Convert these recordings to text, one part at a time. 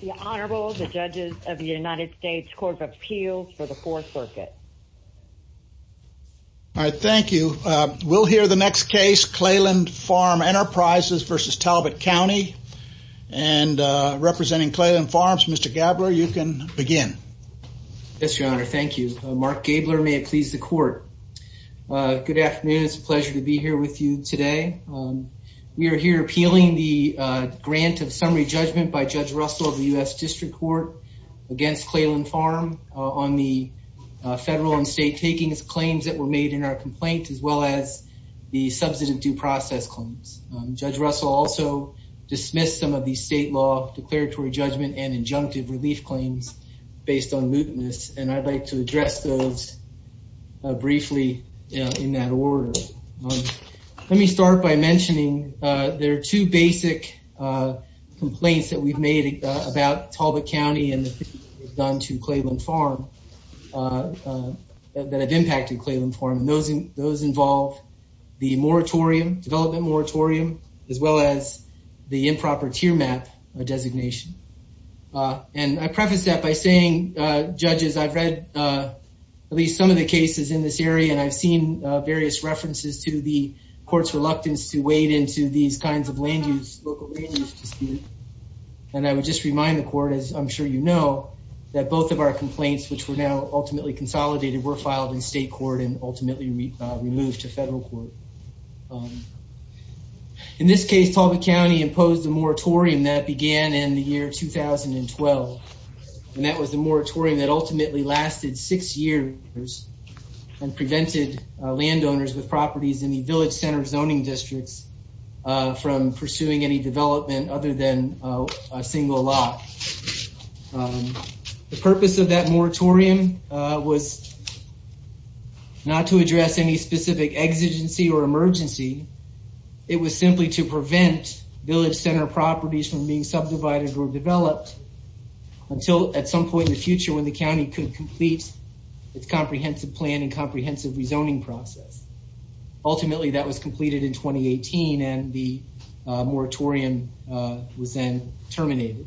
The Honorable, the Judges of the United States Court of Appeals for the Fourth Circuit. All right, thank you. We'll hear the next case, Clayland Farm Enterprises v. Talbot County, and representing Clayland Farms, Mr. Gabler, you can begin. Yes, Your Honor, thank you. Mark Gabler, may it please the Court. Good afternoon. It's a pleasure to be here with you today. We are here appealing the grant of summary judgment by Judge Russell of the U.S. District Court against Clayland Farm on the federal and state takings claims that were made in our complaint, as well as the substantive due process claims. Judge Russell also dismissed some of the state law declaratory judgment and injunctive relief claims based on mutinous, and I'd like to address those briefly in that order. Let me start by mentioning there are two basic complaints that we've made about Talbot County and the things we've done to Clayland Farm that have impacted Clayland Farm, and those involve the moratorium, development moratorium, as well as the improper tier map designation. And I preface that by saying, Judges, I've read at least some of the cases in this area, and I've seen various references to the Court's reluctance to wade into these kinds of land use, local land use disputes, and I would just remind the Court, as I'm sure you know, that both of our complaints, which were now ultimately consolidated, were filed in state court and ultimately removed to federal court. In this case, Talbot County imposed a moratorium that began in the year 2012, and that was the moratorium that ultimately lasted six years and prevented landowners with properties in the village center zoning districts from pursuing any development other than a single lot. The purpose of that moratorium was not to address any specific exigency or emergency. It was simply to prevent village center properties from being subdivided or developed, until at some point in the future, when the county could complete its comprehensive plan and comprehensive rezoning process. Ultimately, that was completed in 2018, and the moratorium was then terminated.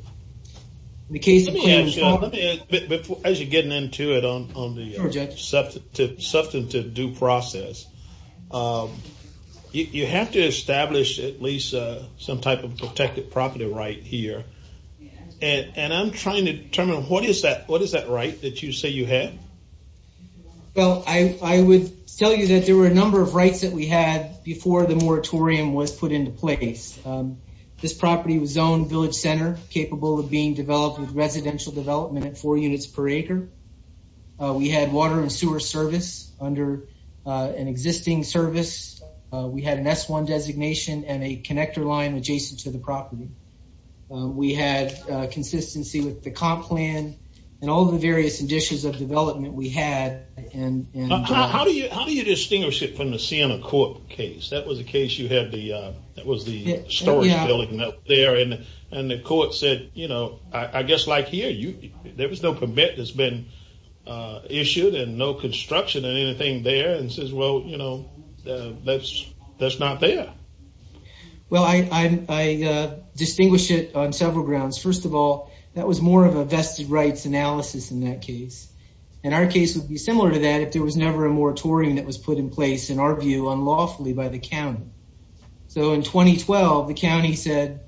In the case of Clayland Farm... As you're getting into it on the subject of due process, you have to establish at least some type of protected property right here, and I'm trying to determine what is that right that you say you have? Well, I would tell you that there were a number of rights that we had before the moratorium was put into place. This property was zoned village center, capable of being developed with residential development at four units per acre. We had water and sewer service under an existing service. We had an S-1 designation and a connector line adjacent to the property. We had consistency with the comp plan and all the various conditions of development we had. How do you distinguish it from the Sienna Court case? That was the case you had the storage building up there, and the court said, you know, I guess like here, there was no permit that's been issued and no construction and anything there, and says, well, you know, that's not there. Well, I distinguish it on several grounds. First of all, that was more of a vested rights analysis in that case, and our case would be similar to that if there was never a moratorium that was put in place, in our view, unlawfully by the county. So, in 2012, the county said,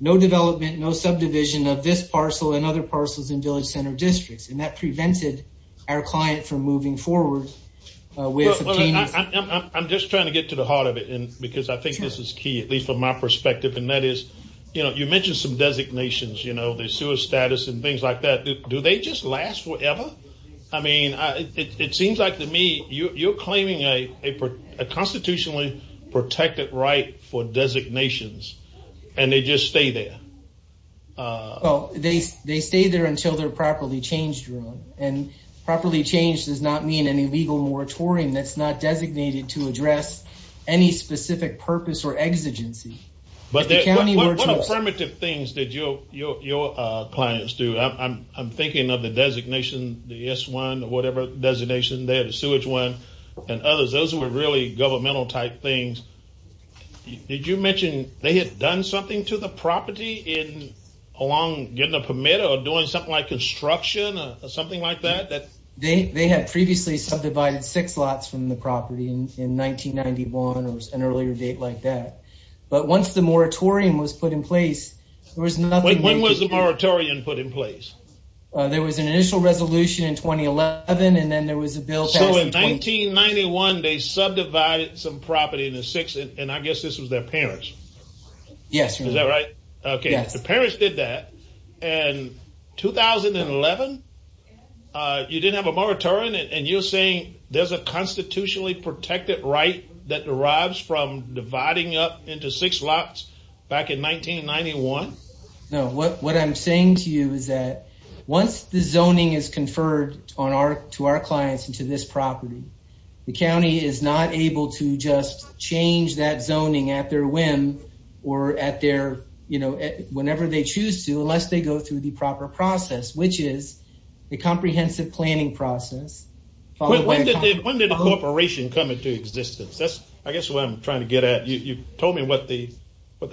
no development, no subdivision of this parcel and other parcels in village center districts, and that prevented our client from moving forward with subpoenas. I'm just trying to get to the heart of it, because I think this is key, at least from my perspective, and that is, you know, you mentioned some designations, you know, the sewer status and things like that. Do they just last forever? I mean, it seems like to me, you're claiming a constitutionally protected right for designations, and they just stay there. Well, they stay there until they're properly changed, and properly changed does not mean any legal moratorium that's not designated to address any specific purpose or exigency. But what affirmative things did your clients do? I'm thinking of the designation, the S1, whatever designation, they had a sewage one, and others. Those were really governmental type things. Did you mention they had done something to the property along getting a permit, or doing something like construction, or something like that? They had previously subdivided six lots from the property in 1991, or an earlier date like that. But once the moratorium was put in place, there was nothing. When was the moratorium put in place? There was an initial resolution in 2011, and then there was a bill. So in 1991, they subdivided some property into six, and I guess this was their parents. Yes. Is that right? Okay, the parents did that, and 2011, you didn't have a moratorium, and you're saying there's a constitutionally protected right that derives from dividing up into six lots back in 1991? No, what I'm saying to you is that once the zoning is conferred to our clients, and to this property, the county is not able to just change that zoning at their whim, or at their, you know, whenever they choose to, unless they go through the proper process, which is the comprehensive planning process. When did the corporation come into existence? That's what I'm trying to get at. You told me what the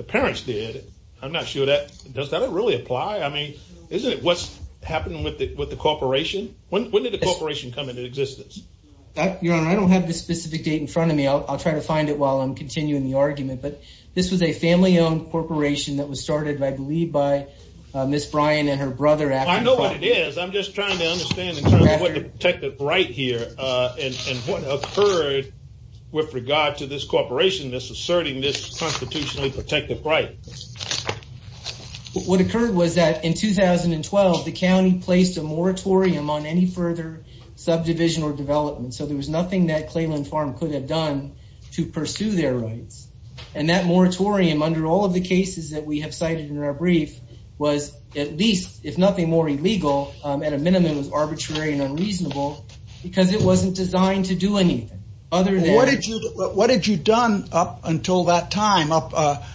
parents did. I'm not sure that, does that really apply? I mean, isn't it what's happening with the corporation? When did the corporation come into existence? Your Honor, I don't have the specific date in front of me. I'll try to find it while I'm continuing the argument, but this was a family-owned corporation that was started, I believe, by Miss Brian and her brother. I know what it is. I'm just trying to understand what the protected right here, and what occurred with regard to this corporation, this asserting this constitutionally protected right. What occurred was that in 2012, the county placed a moratorium on any further subdivision or development, so there was nothing that Clayland Farm could have done to pursue their rights. And that moratorium, under all of the cases that we heard, was very unreasonable, because it wasn't designed to do anything. What had you done up until that time? Up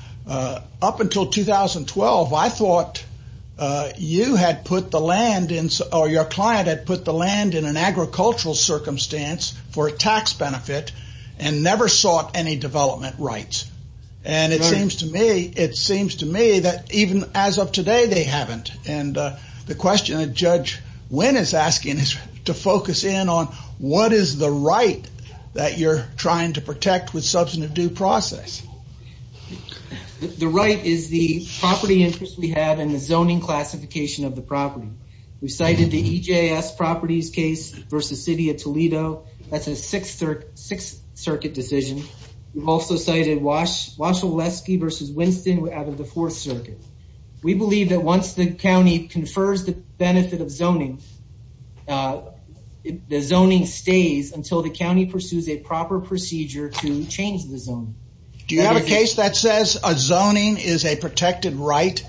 until 2012, I thought your client had put the land in an agricultural circumstance for a tax benefit, and never sought any development rights. And it seems to me that even as of today, they haven't. And the question that Judge Wynn is asking is to focus in on what is the right that you're trying to protect with substantive due process. The right is the property interest we have, and the zoning classification of the property. We've cited the EJS properties case versus City of Toledo. That's a Sixth Circuit decision. We've also cited Washaweski versus Winston out of the Fourth Circuit. We believe that once the county confers the benefit of zoning, the zoning stays until the county pursues a proper procedure to change the zoning. Do you have a case that says a zoning is a protected right?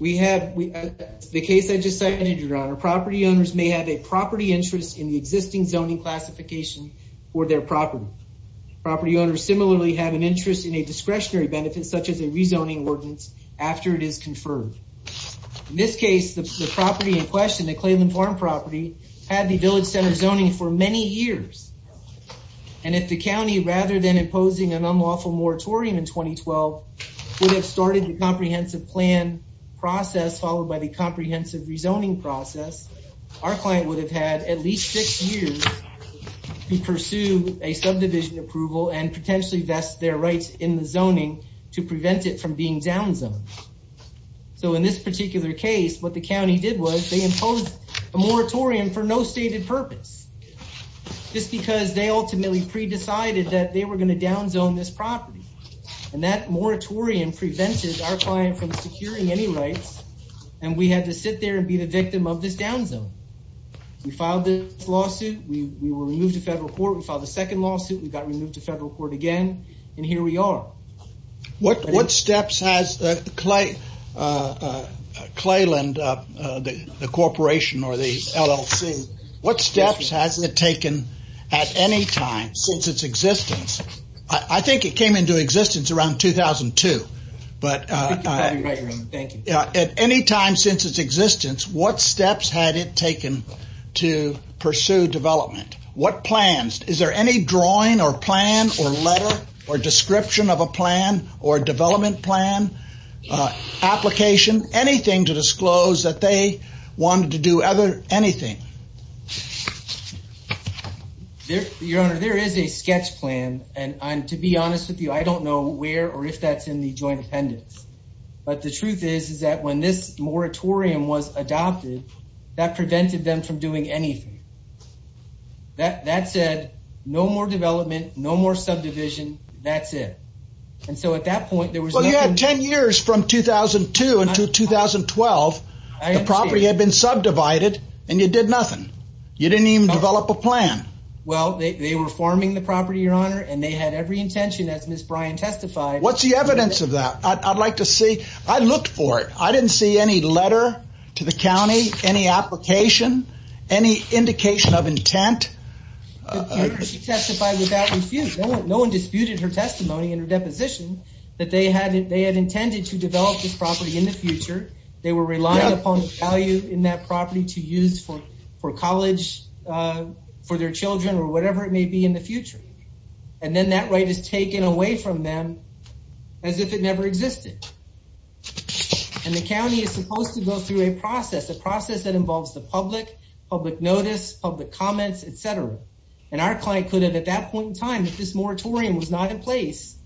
The case I just cited, your honor, property owners may have a property interest in the existing zoning classification for their property. Property owners similarly have an interest in a discretionary benefit, such as a rezoning ordinance, after it is conferred. In this case, the property in question, the Clayland Farm property, had the Village Center zoning for many years. And if the county, rather than imposing an unlawful moratorium in 2012, would have started the comprehensive plan process, followed by the comprehensive rezoning process, our client would have had at least six years to pursue a subdivision approval and potentially vest their rights in the zoning to prevent it from being downzoned. So in this particular case, what the county did was they imposed a moratorium for no stated purpose, just because they ultimately pre-decided that they were going to downzone this property. And that moratorium prevented our client from securing any rights, and we had to sit there and be the victim of this downzone. We filed this lawsuit. We were removed to federal court. We filed the second lawsuit. We got removed to federal court again, and here we are. What steps has Clayland, the corporation or the LLC, what steps has it taken at any time since its existence? I think it came into existence around 2002, but at any time since its existence, what steps had it taken to pursue development? What drawing or plan or letter or description of a plan or development plan, application, anything to disclose that they wanted to do anything? Your Honor, there is a sketch plan, and to be honest with you, I don't know where or if that's in the joint appendix. But the truth is, is that when this moratorium was adopted, that prevented them from doing anything. That said, no more development, no more subdivision, that's it. And so at that point, there was nothing. Well, you had 10 years from 2002 until 2012. I understand. The property had been subdivided, and you did nothing. You didn't even develop a plan. Well, they were farming the property, Your Honor, and they had every intention, as Ms. Bryan testified. What's the evidence of that? I'd like to see. I looked for it. I didn't see any letter to the county, any application, any indication of intent. She testified without refuse. No one disputed her testimony and her deposition that they had intended to develop this property in the future. They were relying upon the value in that property to use for college, for their children, or whatever it may be in the future. And then that right is taken away from them as if it never existed. And the county is supposed to go through a process, a process that involves the public, public notice, public comments, etc. And our client could have, at that point in time, if this moratorium was not in place,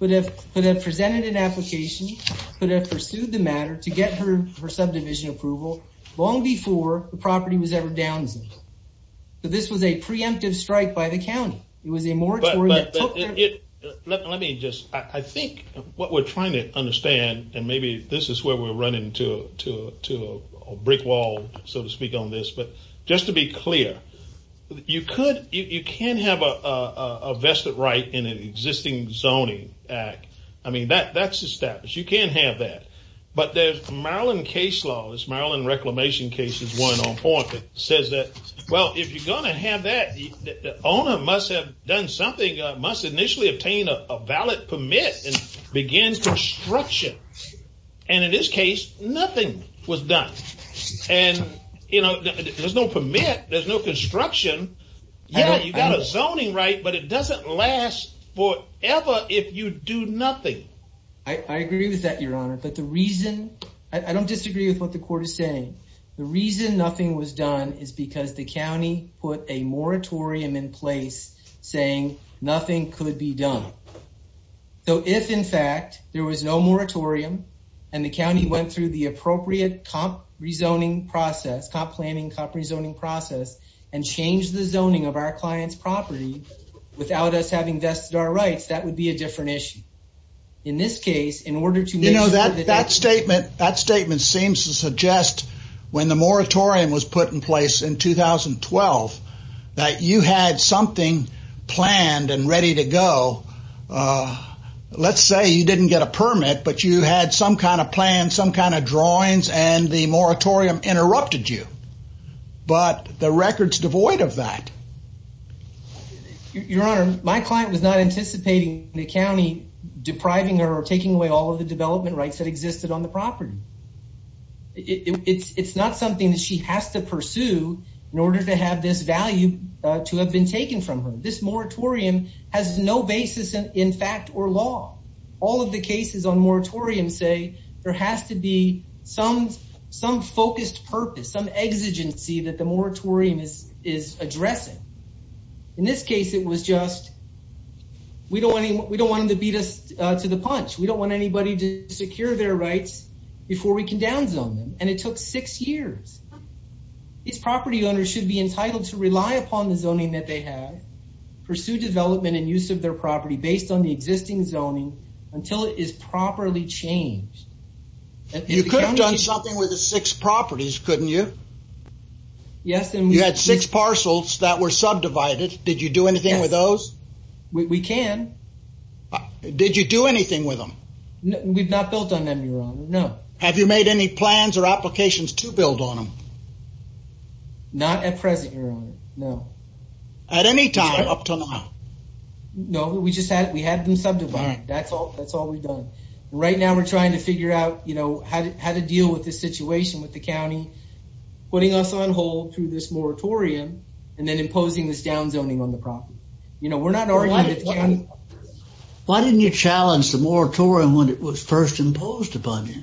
could have presented an application, could have pursued the matter to get her subdivision approval long before the property was ever down. But this was a preemptive strike by the county. It was a moratorium. Let me just, I think what we're trying to understand, and maybe this is where we're running to a brick wall, so to speak, on this. But just to be clear, you can have a vested right in an existing zoning act. I mean, that's established. You can have that. But there's case law, this Maryland Reclamation case is one on point that says that, well, if you're going to have that, the owner must have done something, must initially obtain a valid permit and begin construction. And in this case, nothing was done. And there's no permit, there's no construction. Yeah, you got a zoning right, but it doesn't last forever if you do nothing. I agree with that, Your Honor. But the reason, I don't disagree with what the court is saying. The reason nothing was done is because the county put a moratorium in place saying nothing could be done. So if, in fact, there was no moratorium and the county went through the appropriate comp rezoning process, comp planning, comp rezoning process, and changed the zoning of our client's property without us having vested our rights, that would be a different issue. In this case, in order to... You know, that statement seems to suggest when the moratorium was put in place in 2012, that you had something planned and ready to go. Let's say you didn't get a permit, but you had some kind of plan, some kind of drawings, and the moratorium interrupted you. But the record's devoid of that. Your Honor, my client was not anticipating the county depriving her or taking away all of the development rights that existed on the property. It's not something that she has to pursue in order to have this value to have been taken from her. This moratorium has no basis in fact or law. All of the cases on moratoriums say there has to be some focused purpose, some exigency that the moratorium is addressing. In this case, it was just, we don't want them to beat us to the punch. We don't want anybody to secure their rights before we can down zone them. And it took six years. These property owners should be entitled to rely upon the zoning that they have, pursue development and use of their property based on the existing zoning until it is properly changed. You could have done something with the six properties, couldn't you? You had six parcels that were subdivided. Did you do anything with those? We can. Did you do anything with them? We've not built on them, Your Honor, no. Have you made any plans or applications to build on them? Not at present, Your Honor, no. At any time up to now? No, we just had them subdivided. That's all we've done. Right now we're trying to figure out, you know, how to deal with this situation with the county putting us on hold through this moratorium and then imposing this down zoning on the property. You know, we're not arguing with the county. Why didn't you challenge the moratorium when it was first imposed upon you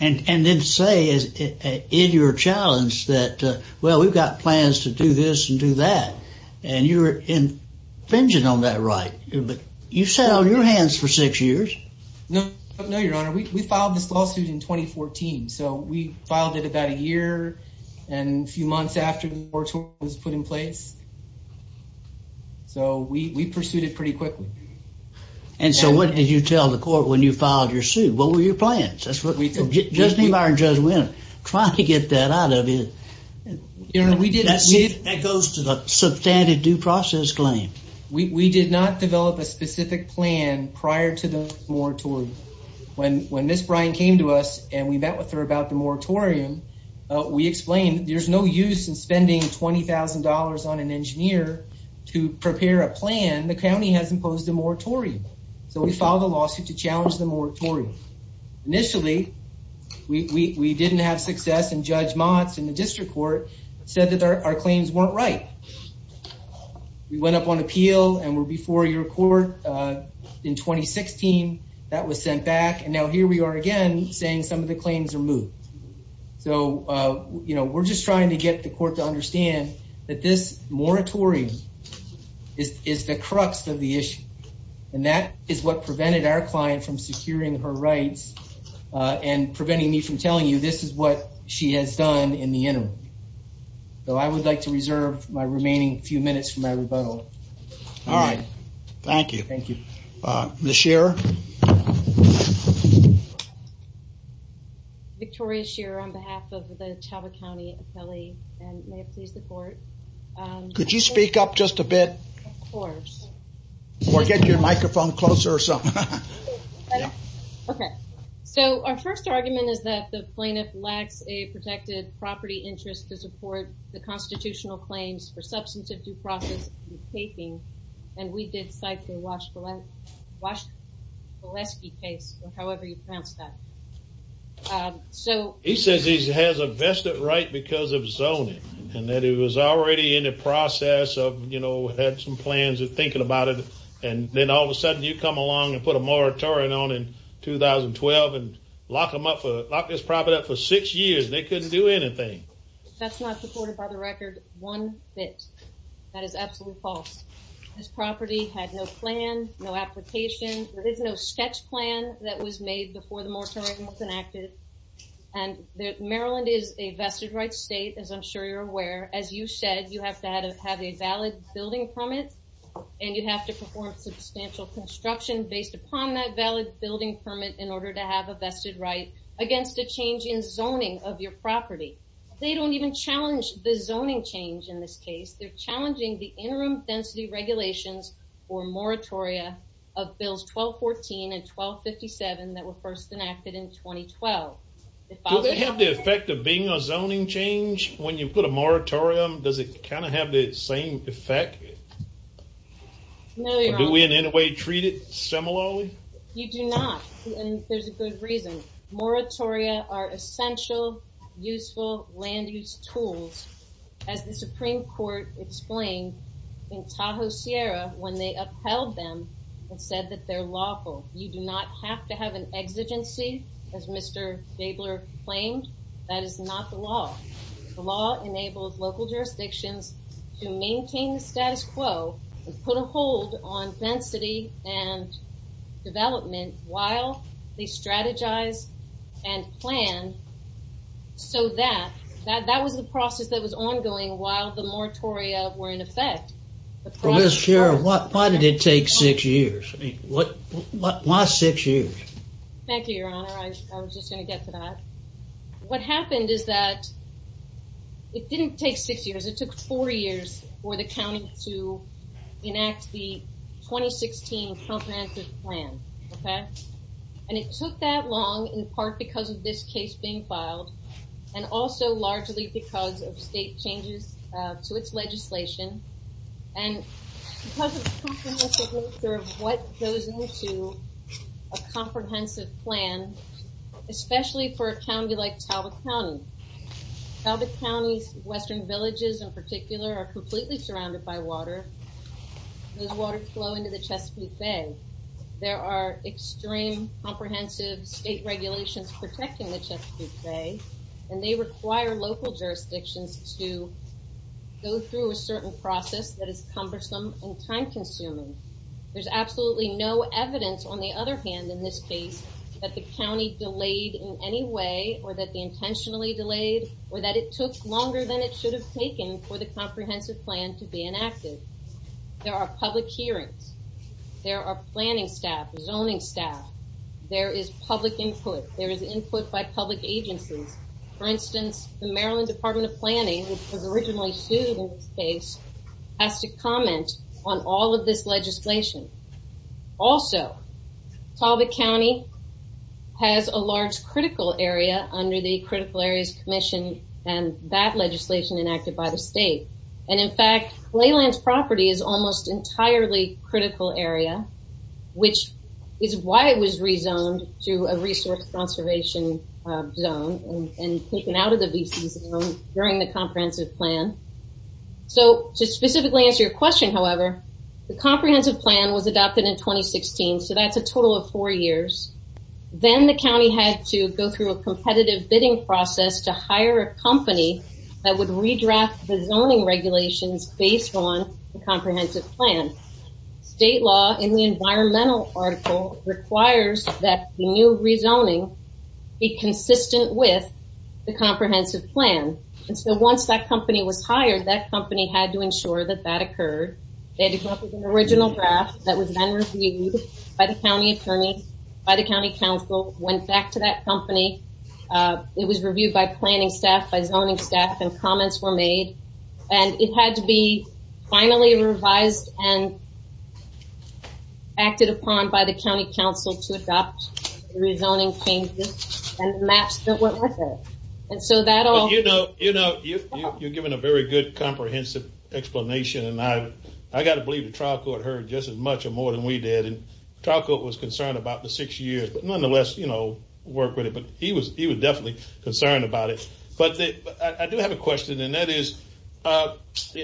and then say in your challenge that, well, we've got plans to do this and do that, and you're infringing on that right. But you sat on your hands for six years. No, Your Honor, we filed this lawsuit in 2014. So we filed it about a year and a few months after the moratorium was put in place. So we pursued it pretty quickly. And so what did you tell the court when you filed your suit? What were your plans? That's what we did. Judge Nebauer and Judge Winner, trying to get that out of it. That goes to the substantive due process claim. We did not develop a specific plan prior to the moratorium. When Ms. Bryan came to us and we met with her about the moratorium, we explained there's no use in spending $20,000 on an engineer to prepare a plan. The county has imposed a moratorium. So we filed a lawsuit to challenge the moratorium. Initially, we didn't have success, and Judge Motz in the district court said that our claims weren't right. We went up on appeal and were before your court in 2016. That was sent back. And now here we are again saying some of the claims are moot. So, you know, we're just trying to get the court to understand that this moratorium is the crux of the issue. And that is what prevented our client from securing her rights and preventing me from telling you this is what she has done in the remaining few minutes from my rebuttal. All right. Thank you. Thank you. Ms. Shearer. Victoria Shearer on behalf of the Chava County Appellee, and may it please the court. Could you speak up just a bit? Of course. Or get your microphone closer or something. Okay. So our first argument is that the plaintiff lacks a protected property interest to support the constitutional claims for substance of due process and taping. And we did cite the Wash-Waleski case, or however you pronounce that. So he says he has a vested right because of zoning and that he was already in the process of, you know, had some plans and thinking about it. And then all of a sudden you come along and put a moratorium on in 2012 and lock them up, lock this property up for six years. They couldn't do anything. That's not supported by the record one bit. That is absolutely false. This property had no plan, no application. There is no sketch plan that was made before the moratorium was enacted. And Maryland is a vested right state, as I'm sure you're aware. As you said, you have to have a valid building permit and you have to perform substantial construction based upon that valid building permit in order to have a vested right against a change in zoning of your property. They don't even challenge the zoning change in this case. They're challenging the interim density regulations or moratoria of bills 1214 and 1257 that were first enacted in 2012. Does it have the effect of being a zoning change when you put a moratorium? Does it You do not. And there's a good reason. Moratoria are essential, useful, land-use tools, as the Supreme Court explained in Tahoe Sierra when they upheld them and said that they're lawful. You do not have to have an exigency, as Mr. Gabler claimed. That is not the law. The law enables local jurisdictions to maintain the status quo and put a hold on density and development while they strategize and plan so that that was the process that was ongoing while the moratoria were in effect. Well, Ms. Sherrill, why did it take six years? I mean, why six years? Thank you, your honor. I was just going to get to that. What happened is that it didn't take six years. It took four years for the county to enact the 2016 comprehensive plan, okay? And it took that long in part because of this case being filed and also largely because of state plan, especially for a county like Talbot County. Talbot County's western villages in particular are completely surrounded by water. Those waters flow into the Chesapeake Bay. There are extreme comprehensive state regulations protecting the Chesapeake Bay, and they require local jurisdictions to go through a certain process that is cumbersome and time-consuming. There's absolutely no evidence, on the other hand, in this case that the county delayed in any way or that they intentionally delayed or that it took longer than it should have taken for the comprehensive plan to be enacted. There are public hearings. There are planning staff, zoning staff. There is public input. There is input by public agencies. For instance, the Maryland Department of Planning, which was Talbot County, has a large critical area under the Critical Areas Commission and that legislation enacted by the state. And in fact, Leyland's property is almost entirely critical area, which is why it was rezoned to a resource conservation zone and taken out of the VC zone during the comprehensive plan. So to specifically answer your question, however, the comprehensive plan was adopted in 2016, so that's a total of four years. Then the county had to go through a competitive bidding process to hire a company that would redraft the zoning regulations based on the comprehensive plan. State law in the environmental article requires that the new rezoning be consistent with the comprehensive plan. And so once that company was hired, that company had to ensure that that occurred. They had to come up with an original draft that was then reviewed by the county attorney, by the county council, went back to that company. It was reviewed by planning staff, by zoning staff, and comments were made. And it had to be finally revised and acted upon by the county council to adopt the rezoning changes and match what was said. You know, you're giving a very good comprehensive explanation, and I got to believe the trial court heard just as much or more than we did. And trial court was concerned about the six years, but nonetheless, you know, worked with it. But he was definitely concerned about it. But I do have a question, and that is,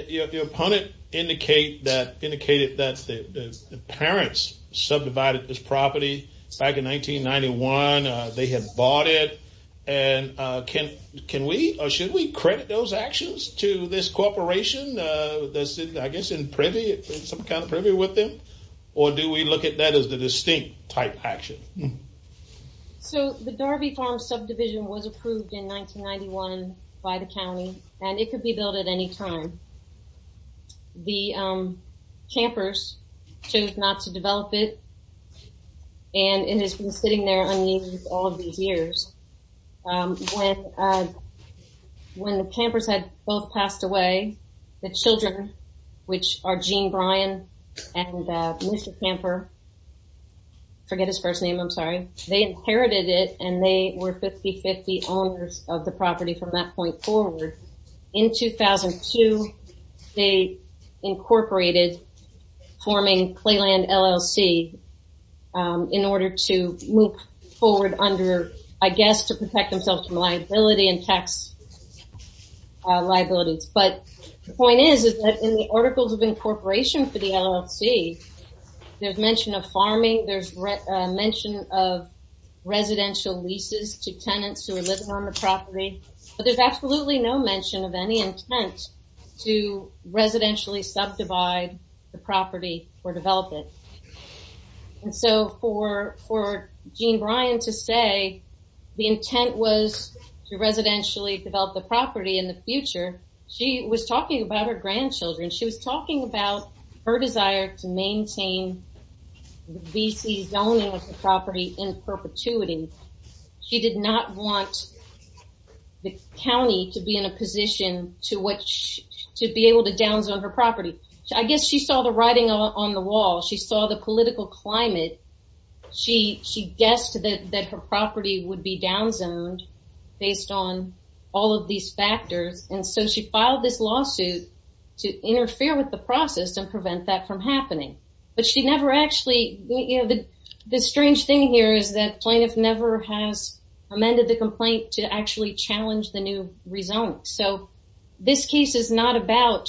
your opponent indicated that the parents subdivided this property back in 1991. They had bought it, and can we or should we credit those actions to this corporation? I guess in privy, some kind of privy with them, or do we look at that as the distinct type action? So the Darby Farm subdivision was approved in 1991 by the county, and it could be built at any time. The campers chose not to develop it, and it has been sitting there unused all of these years. When the campers had both passed away, the children, which are Gene Bryan and Mr. Camper, forget his first name, I'm sorry, they inherited it, and they were 50-50 owners of the property from that point forward. In 2002, they incorporated forming Clayland LLC in order to move forward under, I guess, to protect themselves from liability and tax liabilities. But the point is, is that in the articles of incorporation for the LLC, there's mention of farming, there's mention of residential leases to tenants who are living on the property, but there's absolutely no mention of any intent to residentially subdivide the property or develop it. And so for Gene Bryan to say the intent was to residentially develop the property in the future, she was talking about her grandchildren, she was talking about her desire to maintain VC zoning of the property in perpetuity. She did not want the county to be in a position to be able to downzone her property. I guess she saw the writing on the wall, she saw the political climate, she guessed that her to interfere with the process and prevent that from happening. But she never actually, you know, the strange thing here is that plaintiff never has amended the complaint to actually challenge the new rezoning. So this case is not about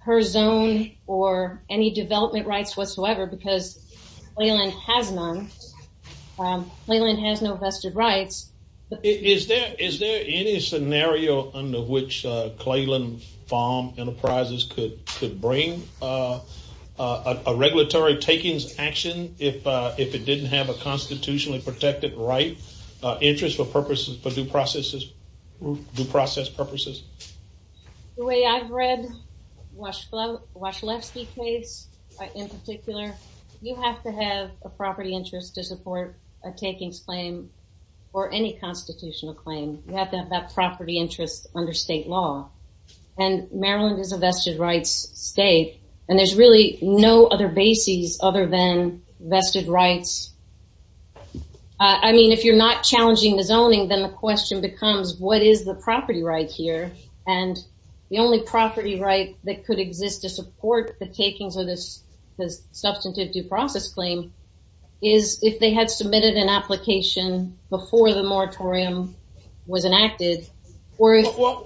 her zone or any development rights whatsoever because Clayland has none. Clayland has no vested rights. Is there any scenario under which Clayland Farm Enterprises could bring a regulatory takings action if it didn't have a constitutionally protected right interest for purposes, for due process purposes? The way I've read Washlefsky's case in particular, you have to have a property interest to support a takings claim or any constitutional claim. You have to have that property interest under state law. And Maryland is a vested rights state and there's really no other basis other than vested rights. I mean, if you're not challenging the zoning, then the question becomes what is the property right here? And the only property right that could exist to support the takings of this substantive due process claim is if they had submitted an application before the moratorium was enacted. What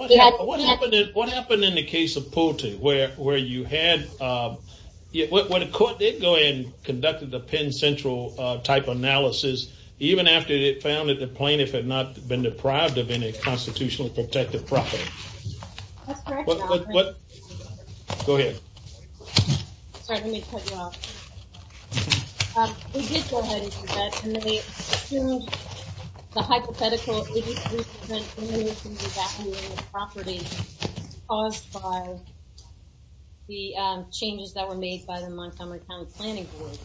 happened in the case of Poteet where you had, where the court did go ahead and conducted the Penn Central type analysis, even after it found that the plaintiff had not been deprived of any constitutionally protected property. Go ahead. Sorry, let me cut you off. We did go ahead and submit and they assumed the hypothetical property caused by the changes that were made by the Montgomery County Planning Board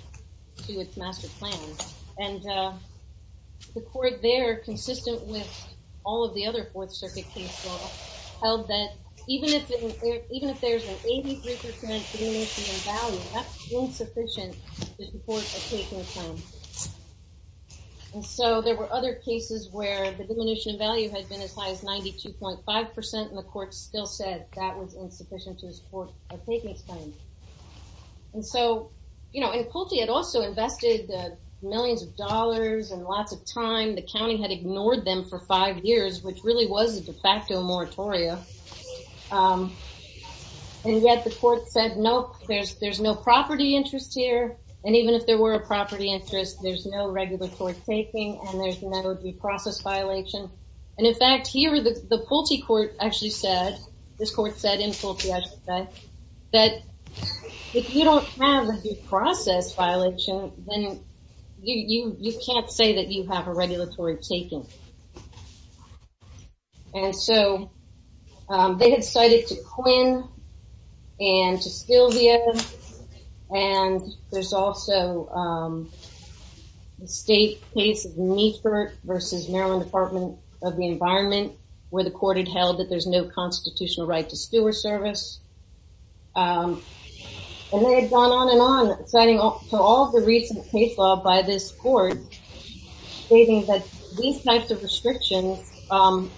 to its master plan. And the court there, consistent with all of the other Fourth Circuit cases, held that even if there's an 83% diminution in value, that's insufficient to support a takings claim. And so there were other cases where the diminution in value had been as high as 92.5% and the court still said that was insufficient to support a takings claim. And so, you know, and Poteet had also invested millions of dollars and lots of time. The county had ignored them for five years, which really was a de facto moratorium. And yet the court said, nope, there's no property interest here. And even if there were a property interest, there's no regular court taking and there's no due process violation. And in fact, the Pulte court actually said, this court said in Pulte, I should say, that if you don't have a due process violation, then you can't say that you have a regulatory taking. And so they had cited to Quinn and to Skilvia. And there's also the state case of Neifert versus Maryland Department of the Environment, where the court had held that there's no constitutional right to steward service. And they had gone on and on citing to all the recent case law by this court stating that these types of restrictions and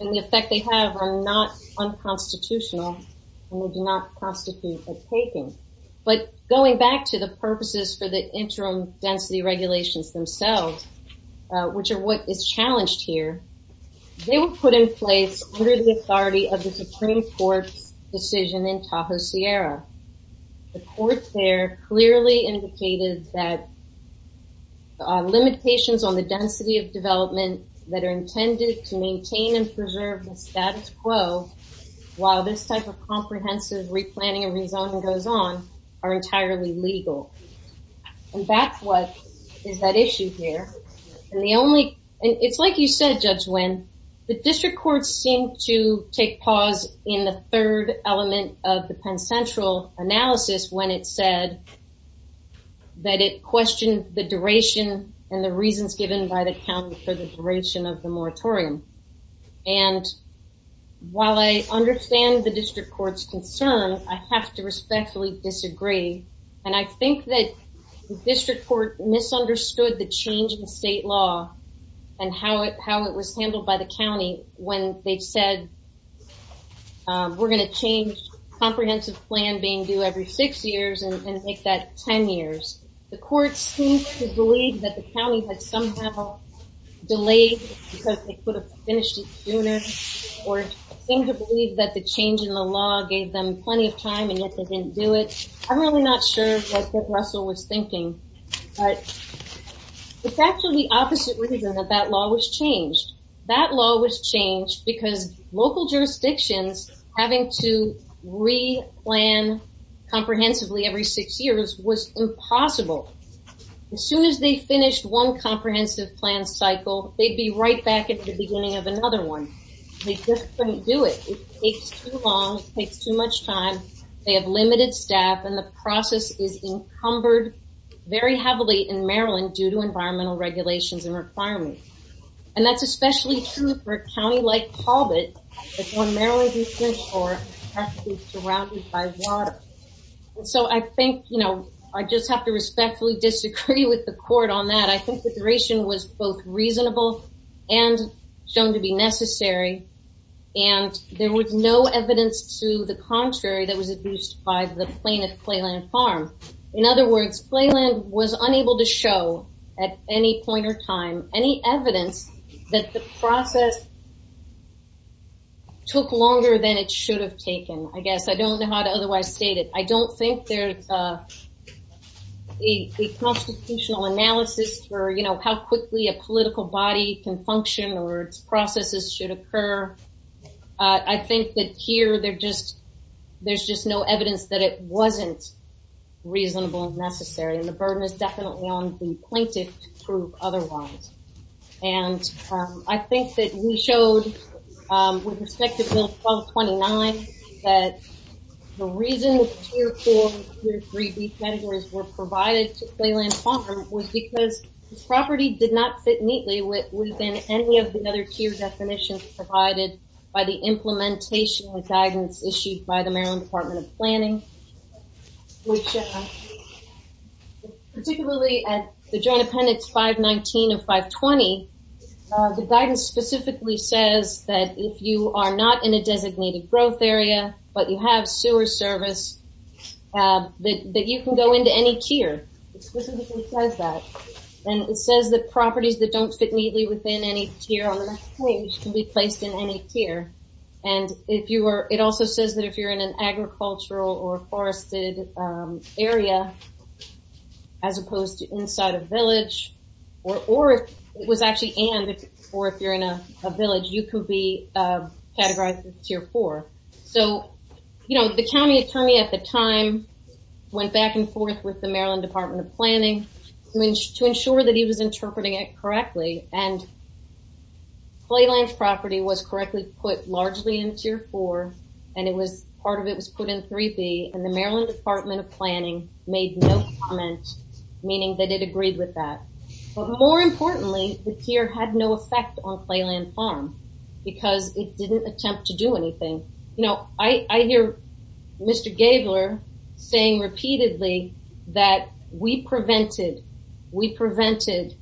the effect they have are not unconstitutional and they do not constitute a taking. But going back to the purposes for the which are what is challenged here, they were put in place under the authority of the Supreme Court's decision in Tahoe Sierra. The court there clearly indicated that limitations on the density of development that are intended to maintain and preserve the status quo, while this type of comprehensive replanning and rezoning goes on are entirely legal. And that's is that issue here. And it's like you said, Judge Nguyen, the district courts seem to take pause in the third element of the Penn Central analysis when it said that it questioned the duration and the reasons given by the county for the duration of the moratorium. And while I understand the district court's concern, I have to respectfully disagree. And I think that district court misunderstood the change in state law and how it how it was handled by the county when they said we're going to change comprehensive plan being due every six years and make that 10 years. The court seems to believe that the county had somehow delayed because they could have finished it sooner or seem to believe that the change in the law gave them plenty of time and yet they didn't do it. I'm really not sure what Judge Russell was thinking. But it's actually the opposite reason that that law was changed. That law was changed because local jurisdictions having to replan comprehensively every six years was impossible. As soon as they finished one comprehensive plan cycle, they'd be right back at the beginning of they have limited staff and the process is encumbered very heavily in Maryland due to environmental regulations and requirements. And that's especially true for a county like Colbert when Maryland district court has to be surrounded by water. So I think, you know, I just have to respectfully disagree with the court on that. I think the duration was both reasonable and shown to be necessary. And there was no evidence to the contrary that was abused by the plaintiff, Clayland Farm. In other words, Clayland was unable to show at any point or time, any evidence that the process took longer than it should have taken. I guess I don't know how to otherwise state it. I don't think there's a constitutional analysis for, you know, how quickly a political body can function or its processes should occur. I think that here there just, there's just no evidence that it wasn't reasonable and necessary and the burden is definitely on the plaintiff to prove otherwise. And I think that we showed with respect to Bill 1229 that the reason Tier 4 and Tier 3 categories were provided to Clayland Farm was because this property did not fit neatly within any of the other tier definitions provided by the implementation and guidance issued by the Maryland Department of Planning, which particularly at the Joint Appendix 519 of 520, the guidance specifically says that if you are not in a designated growth area but you have sewer service, that you can go into any tier. It specifically says that. And it says that properties that don't fit neatly within any tier on the page can be placed in any tier. And it also says that if you're in an agricultural or forested area, as opposed to inside a village, or if it was actually and, or if you're in a village, you could be categorized as Tier 4. So, you know, the county attorney at the time went back and forth with the Maryland Department of Planning to ensure that he was interpreting it Clayland's property was correctly put largely in Tier 4 and it was part of it was put in 3B and the Maryland Department of Planning made no comment, meaning that it agreed with that. But more importantly, the tier had no effect on Clayland Farm because it didn't attempt to do anything. You know, I hear Mr. Gabler saying repeatedly that we prevented, we prevented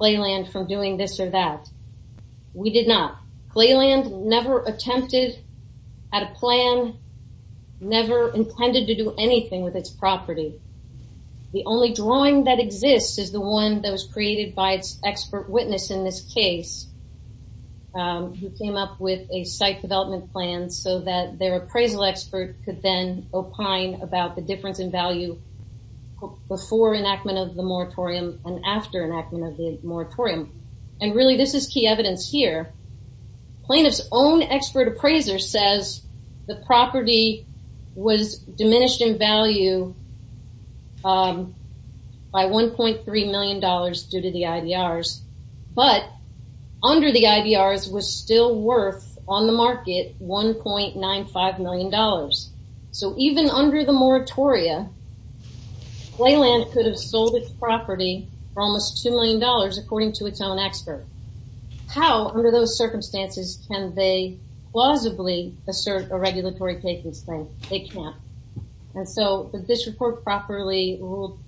doing this or that. We did not. Clayland never attempted at a plan, never intended to do anything with its property. The only drawing that exists is the one that was created by its expert witness in this case, who came up with a site development plan so that their appraisal expert could then opine about the difference in value before enactment of the moratorium and after enactment of the moratorium. And really this is key evidence here. Plaintiff's own expert appraiser says the property was diminished in value by 1.3 million dollars due to the IDRs, but under the IDRs was still worth on the market 1.95 million dollars. So even under the moratoria Clayland could have sold its property for almost 2 million dollars according to its own expert. How under those circumstances can they plausibly assert a regulatory takings claim? They can't. And so this report properly ruled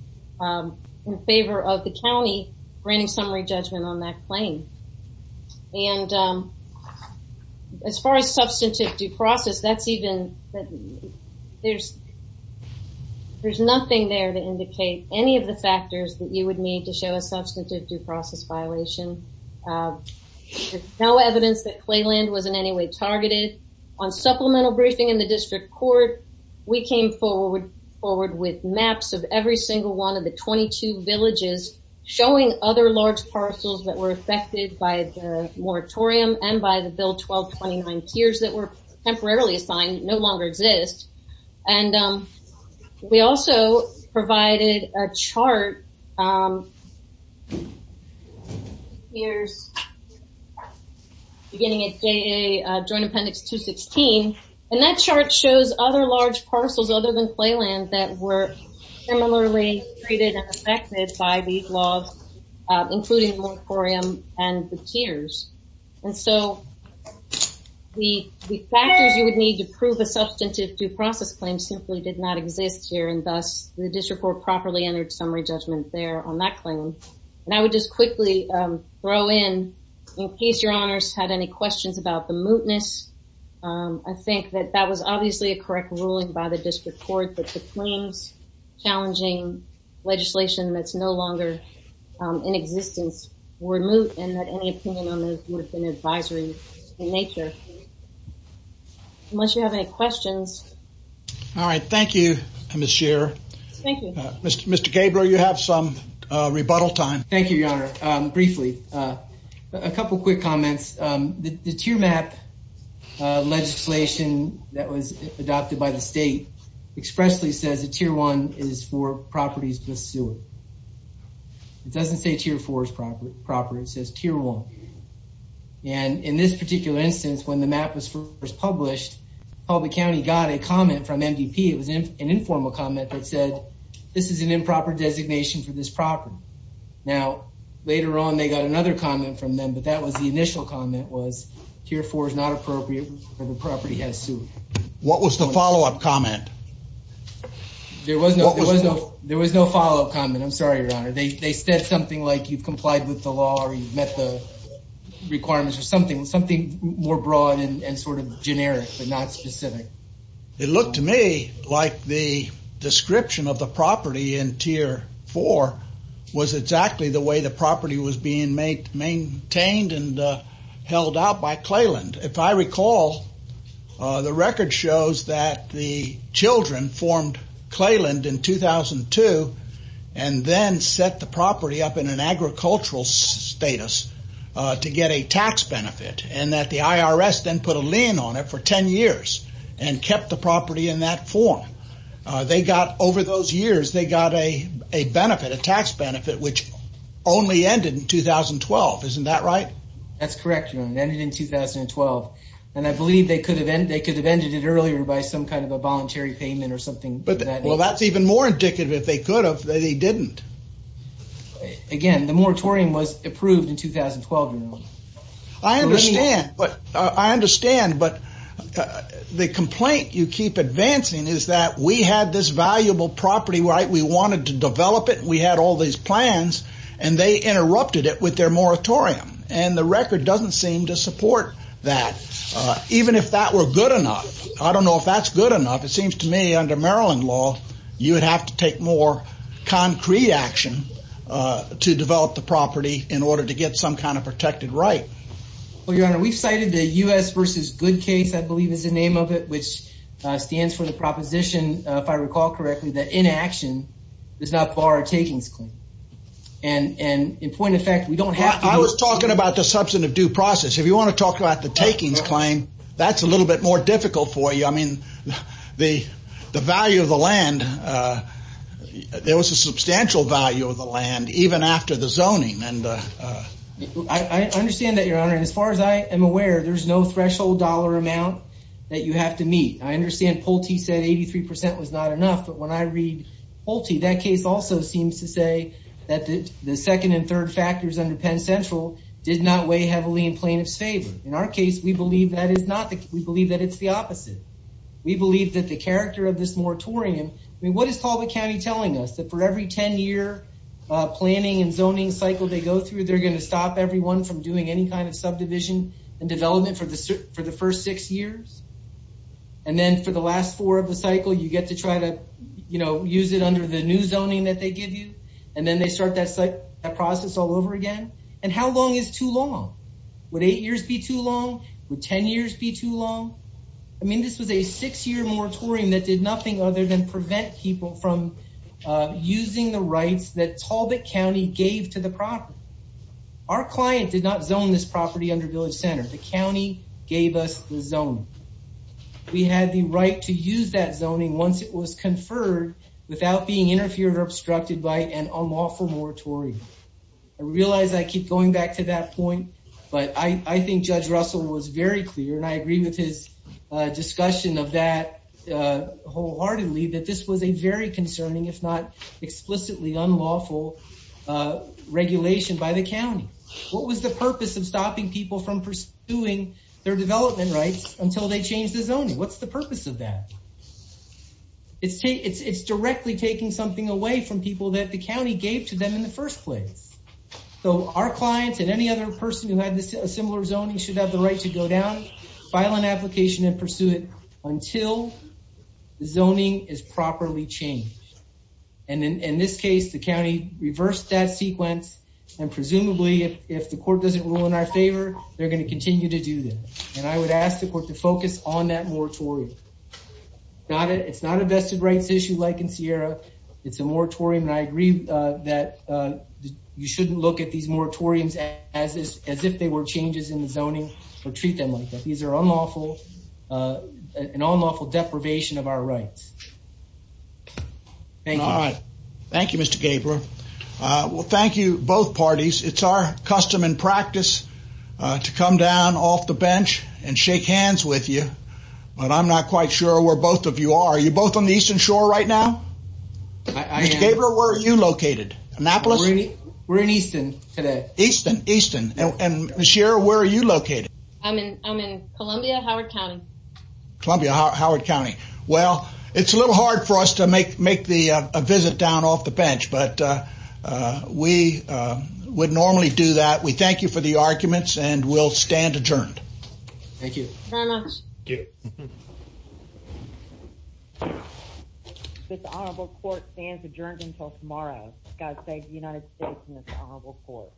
in favor of the county granting summary judgment on that claim. And as far as substantive due process, there's nothing there to indicate any of the factors that you would need to show a substantive due process violation. There's no evidence that Clayland was in any way targeted. On supplemental briefing in the district court, we came forward with maps of every single one of the 22 villages showing other large parcels that were affected by the moratorium and by the Bill 1229 tiers that were temporarily assigned no longer exist. And we also provided a chart here's beginning at JA Joint Appendix 216. And that chart shows other large parcels other than laws including moratorium and the tiers. And so the factors you would need to prove a substantive due process claim simply did not exist here and thus the district court properly entered summary judgment there on that claim. And I would just quickly throw in in case your honors had any questions about the mootness. I think that that was obviously a correct ruling by the district court that the claims challenging legislation that's no longer in existence were moot and that any opinion on this would have been advisory in nature. Unless you have any questions. All right. Thank you, Ms. Shearer. Thank you. Mr. Gabler, you have some rebuttal time. Thank you, your honor. Briefly, a couple quick comments. The tier map legislation that was expressly says that tier one is for properties with sewer. It doesn't say tier four is proper. It says tier one. And in this particular instance, when the map was first published, Colby County got a comment from MDP. It was an informal comment that said, this is an improper designation for this property. Now, later on, they got another comment from them, but that was the initial comment was tier four is not appropriate for the property has sewer. What was the follow-up comment? There was no follow-up comment. I'm sorry, your honor. They said something like you've complied with the law or you've met the requirements or something, something more broad and sort of generic, but not specific. It looked to me like the description of the property in tier four was exactly the way the record shows that the children formed Clayland in 2002 and then set the property up in an agricultural status to get a tax benefit. And that the IRS then put a lien on it for 10 years and kept the property in that form. They got over those years, they got a benefit, a tax benefit, which only ended in 2012. Isn't that right? That's correct, your honor. It ended in 2012. And I believe they could have ended it earlier by some kind of a voluntary payment or something. Well, that's even more indicative if they could have, they didn't. Again, the moratorium was approved in 2012, your honor. I understand, but the complaint you keep advancing is that we had this valuable property, right? We wanted to develop it. We had all these plans and they interrupted it with their moratorium and the record doesn't seem to support that. Even if that were good enough. I don't know if that's good enough. It seems to me under Maryland law, you would have to take more concrete action to develop the property in order to get some kind of protected right. Well, your honor, we've cited the U.S. versus good case, I believe is the name of it, which stands for the proposition, if I recall correctly, that inaction does not bar a takings claim. And in point of fact, we don't have to- I was talking about the substantive due process. If you want to talk about the takings claim, that's a little bit more difficult for you. I mean, the value of the land, there was a substantial value of the land, even after the zoning. I understand that, your honor. And as far as I am aware, there's no threshold dollar amount that you have to meet. I understand Pulte said 83% was not enough, but when I read Pulte, that case also seems to say that the second and third factors under Penn Central did not weigh heavily in plaintiff's favor. In our case, we believe that it's the opposite. We believe that the character of this moratorium, I mean, what is Talbot County telling us? That for every 10-year planning and zoning cycle they go through, they're going to stop everyone from doing any kind of subdivision and development for the first six years? And then for the last four of the cycle, you get to try to, you know, use it under the new zoning that they give you, and then they start that process all over again? And how long is too long? Would eight years be too long? Would 10 years be too long? I mean, this was a six-year moratorium that did nothing other than prevent people from using the rights that Talbot County gave to the property. Our client did not zone this property under Village Center. The county gave us the zoning. We had the right to use that zoning once it was conferred without being interfered or obstructed by an unlawful moratorium. I realize I keep going back to that point, but I think Judge Russell was very clear, and I agree with his discussion of that wholeheartedly, that this was a very concerning, if not explicitly unlawful, regulation by the county. What was the purpose of stopping people from pursuing their development rights until they changed the zoning? What's the purpose of that? It's directly taking something away from people that the county gave to them in the first place. So, our clients and any other person who had a similar zoning should have the right to go down, file an application, and pursue it until the zoning is properly changed. And in this case, the county reversed that sequence, and presumably, if the court doesn't rule in our favor, they're going to continue to do that. And I would ask the court to focus on that moratorium. It's not a vested rights issue like in Sierra. It's a moratorium, and I agree that you shouldn't look at these moratoriums as if they were changes in the zoning or treat them like that. These are an unlawful deprivation of our rights. Thank you. All right. Thank you, Mr. Gabler. Well, thank you, both parties. It's our custom and practice to come down off the bench and shake hands with you, but I'm not quite sure where both of you are. Are you both on the Eastern Shore right now? Mr. Gabler, where are you located? Annapolis? We're in Easton today. Easton, Easton. And Ms. Sierra, where are you located? I'm in Columbia, Howard County. Columbia, Howard County. Well, it's a little hard for us to make a visit down off the bench, but we would normally do that. We thank you for the arguments, and we'll stand adjourned. Thank you. Very much. Thank you. This honorable court stands adjourned until tomorrow. God save the United States and this honorable court.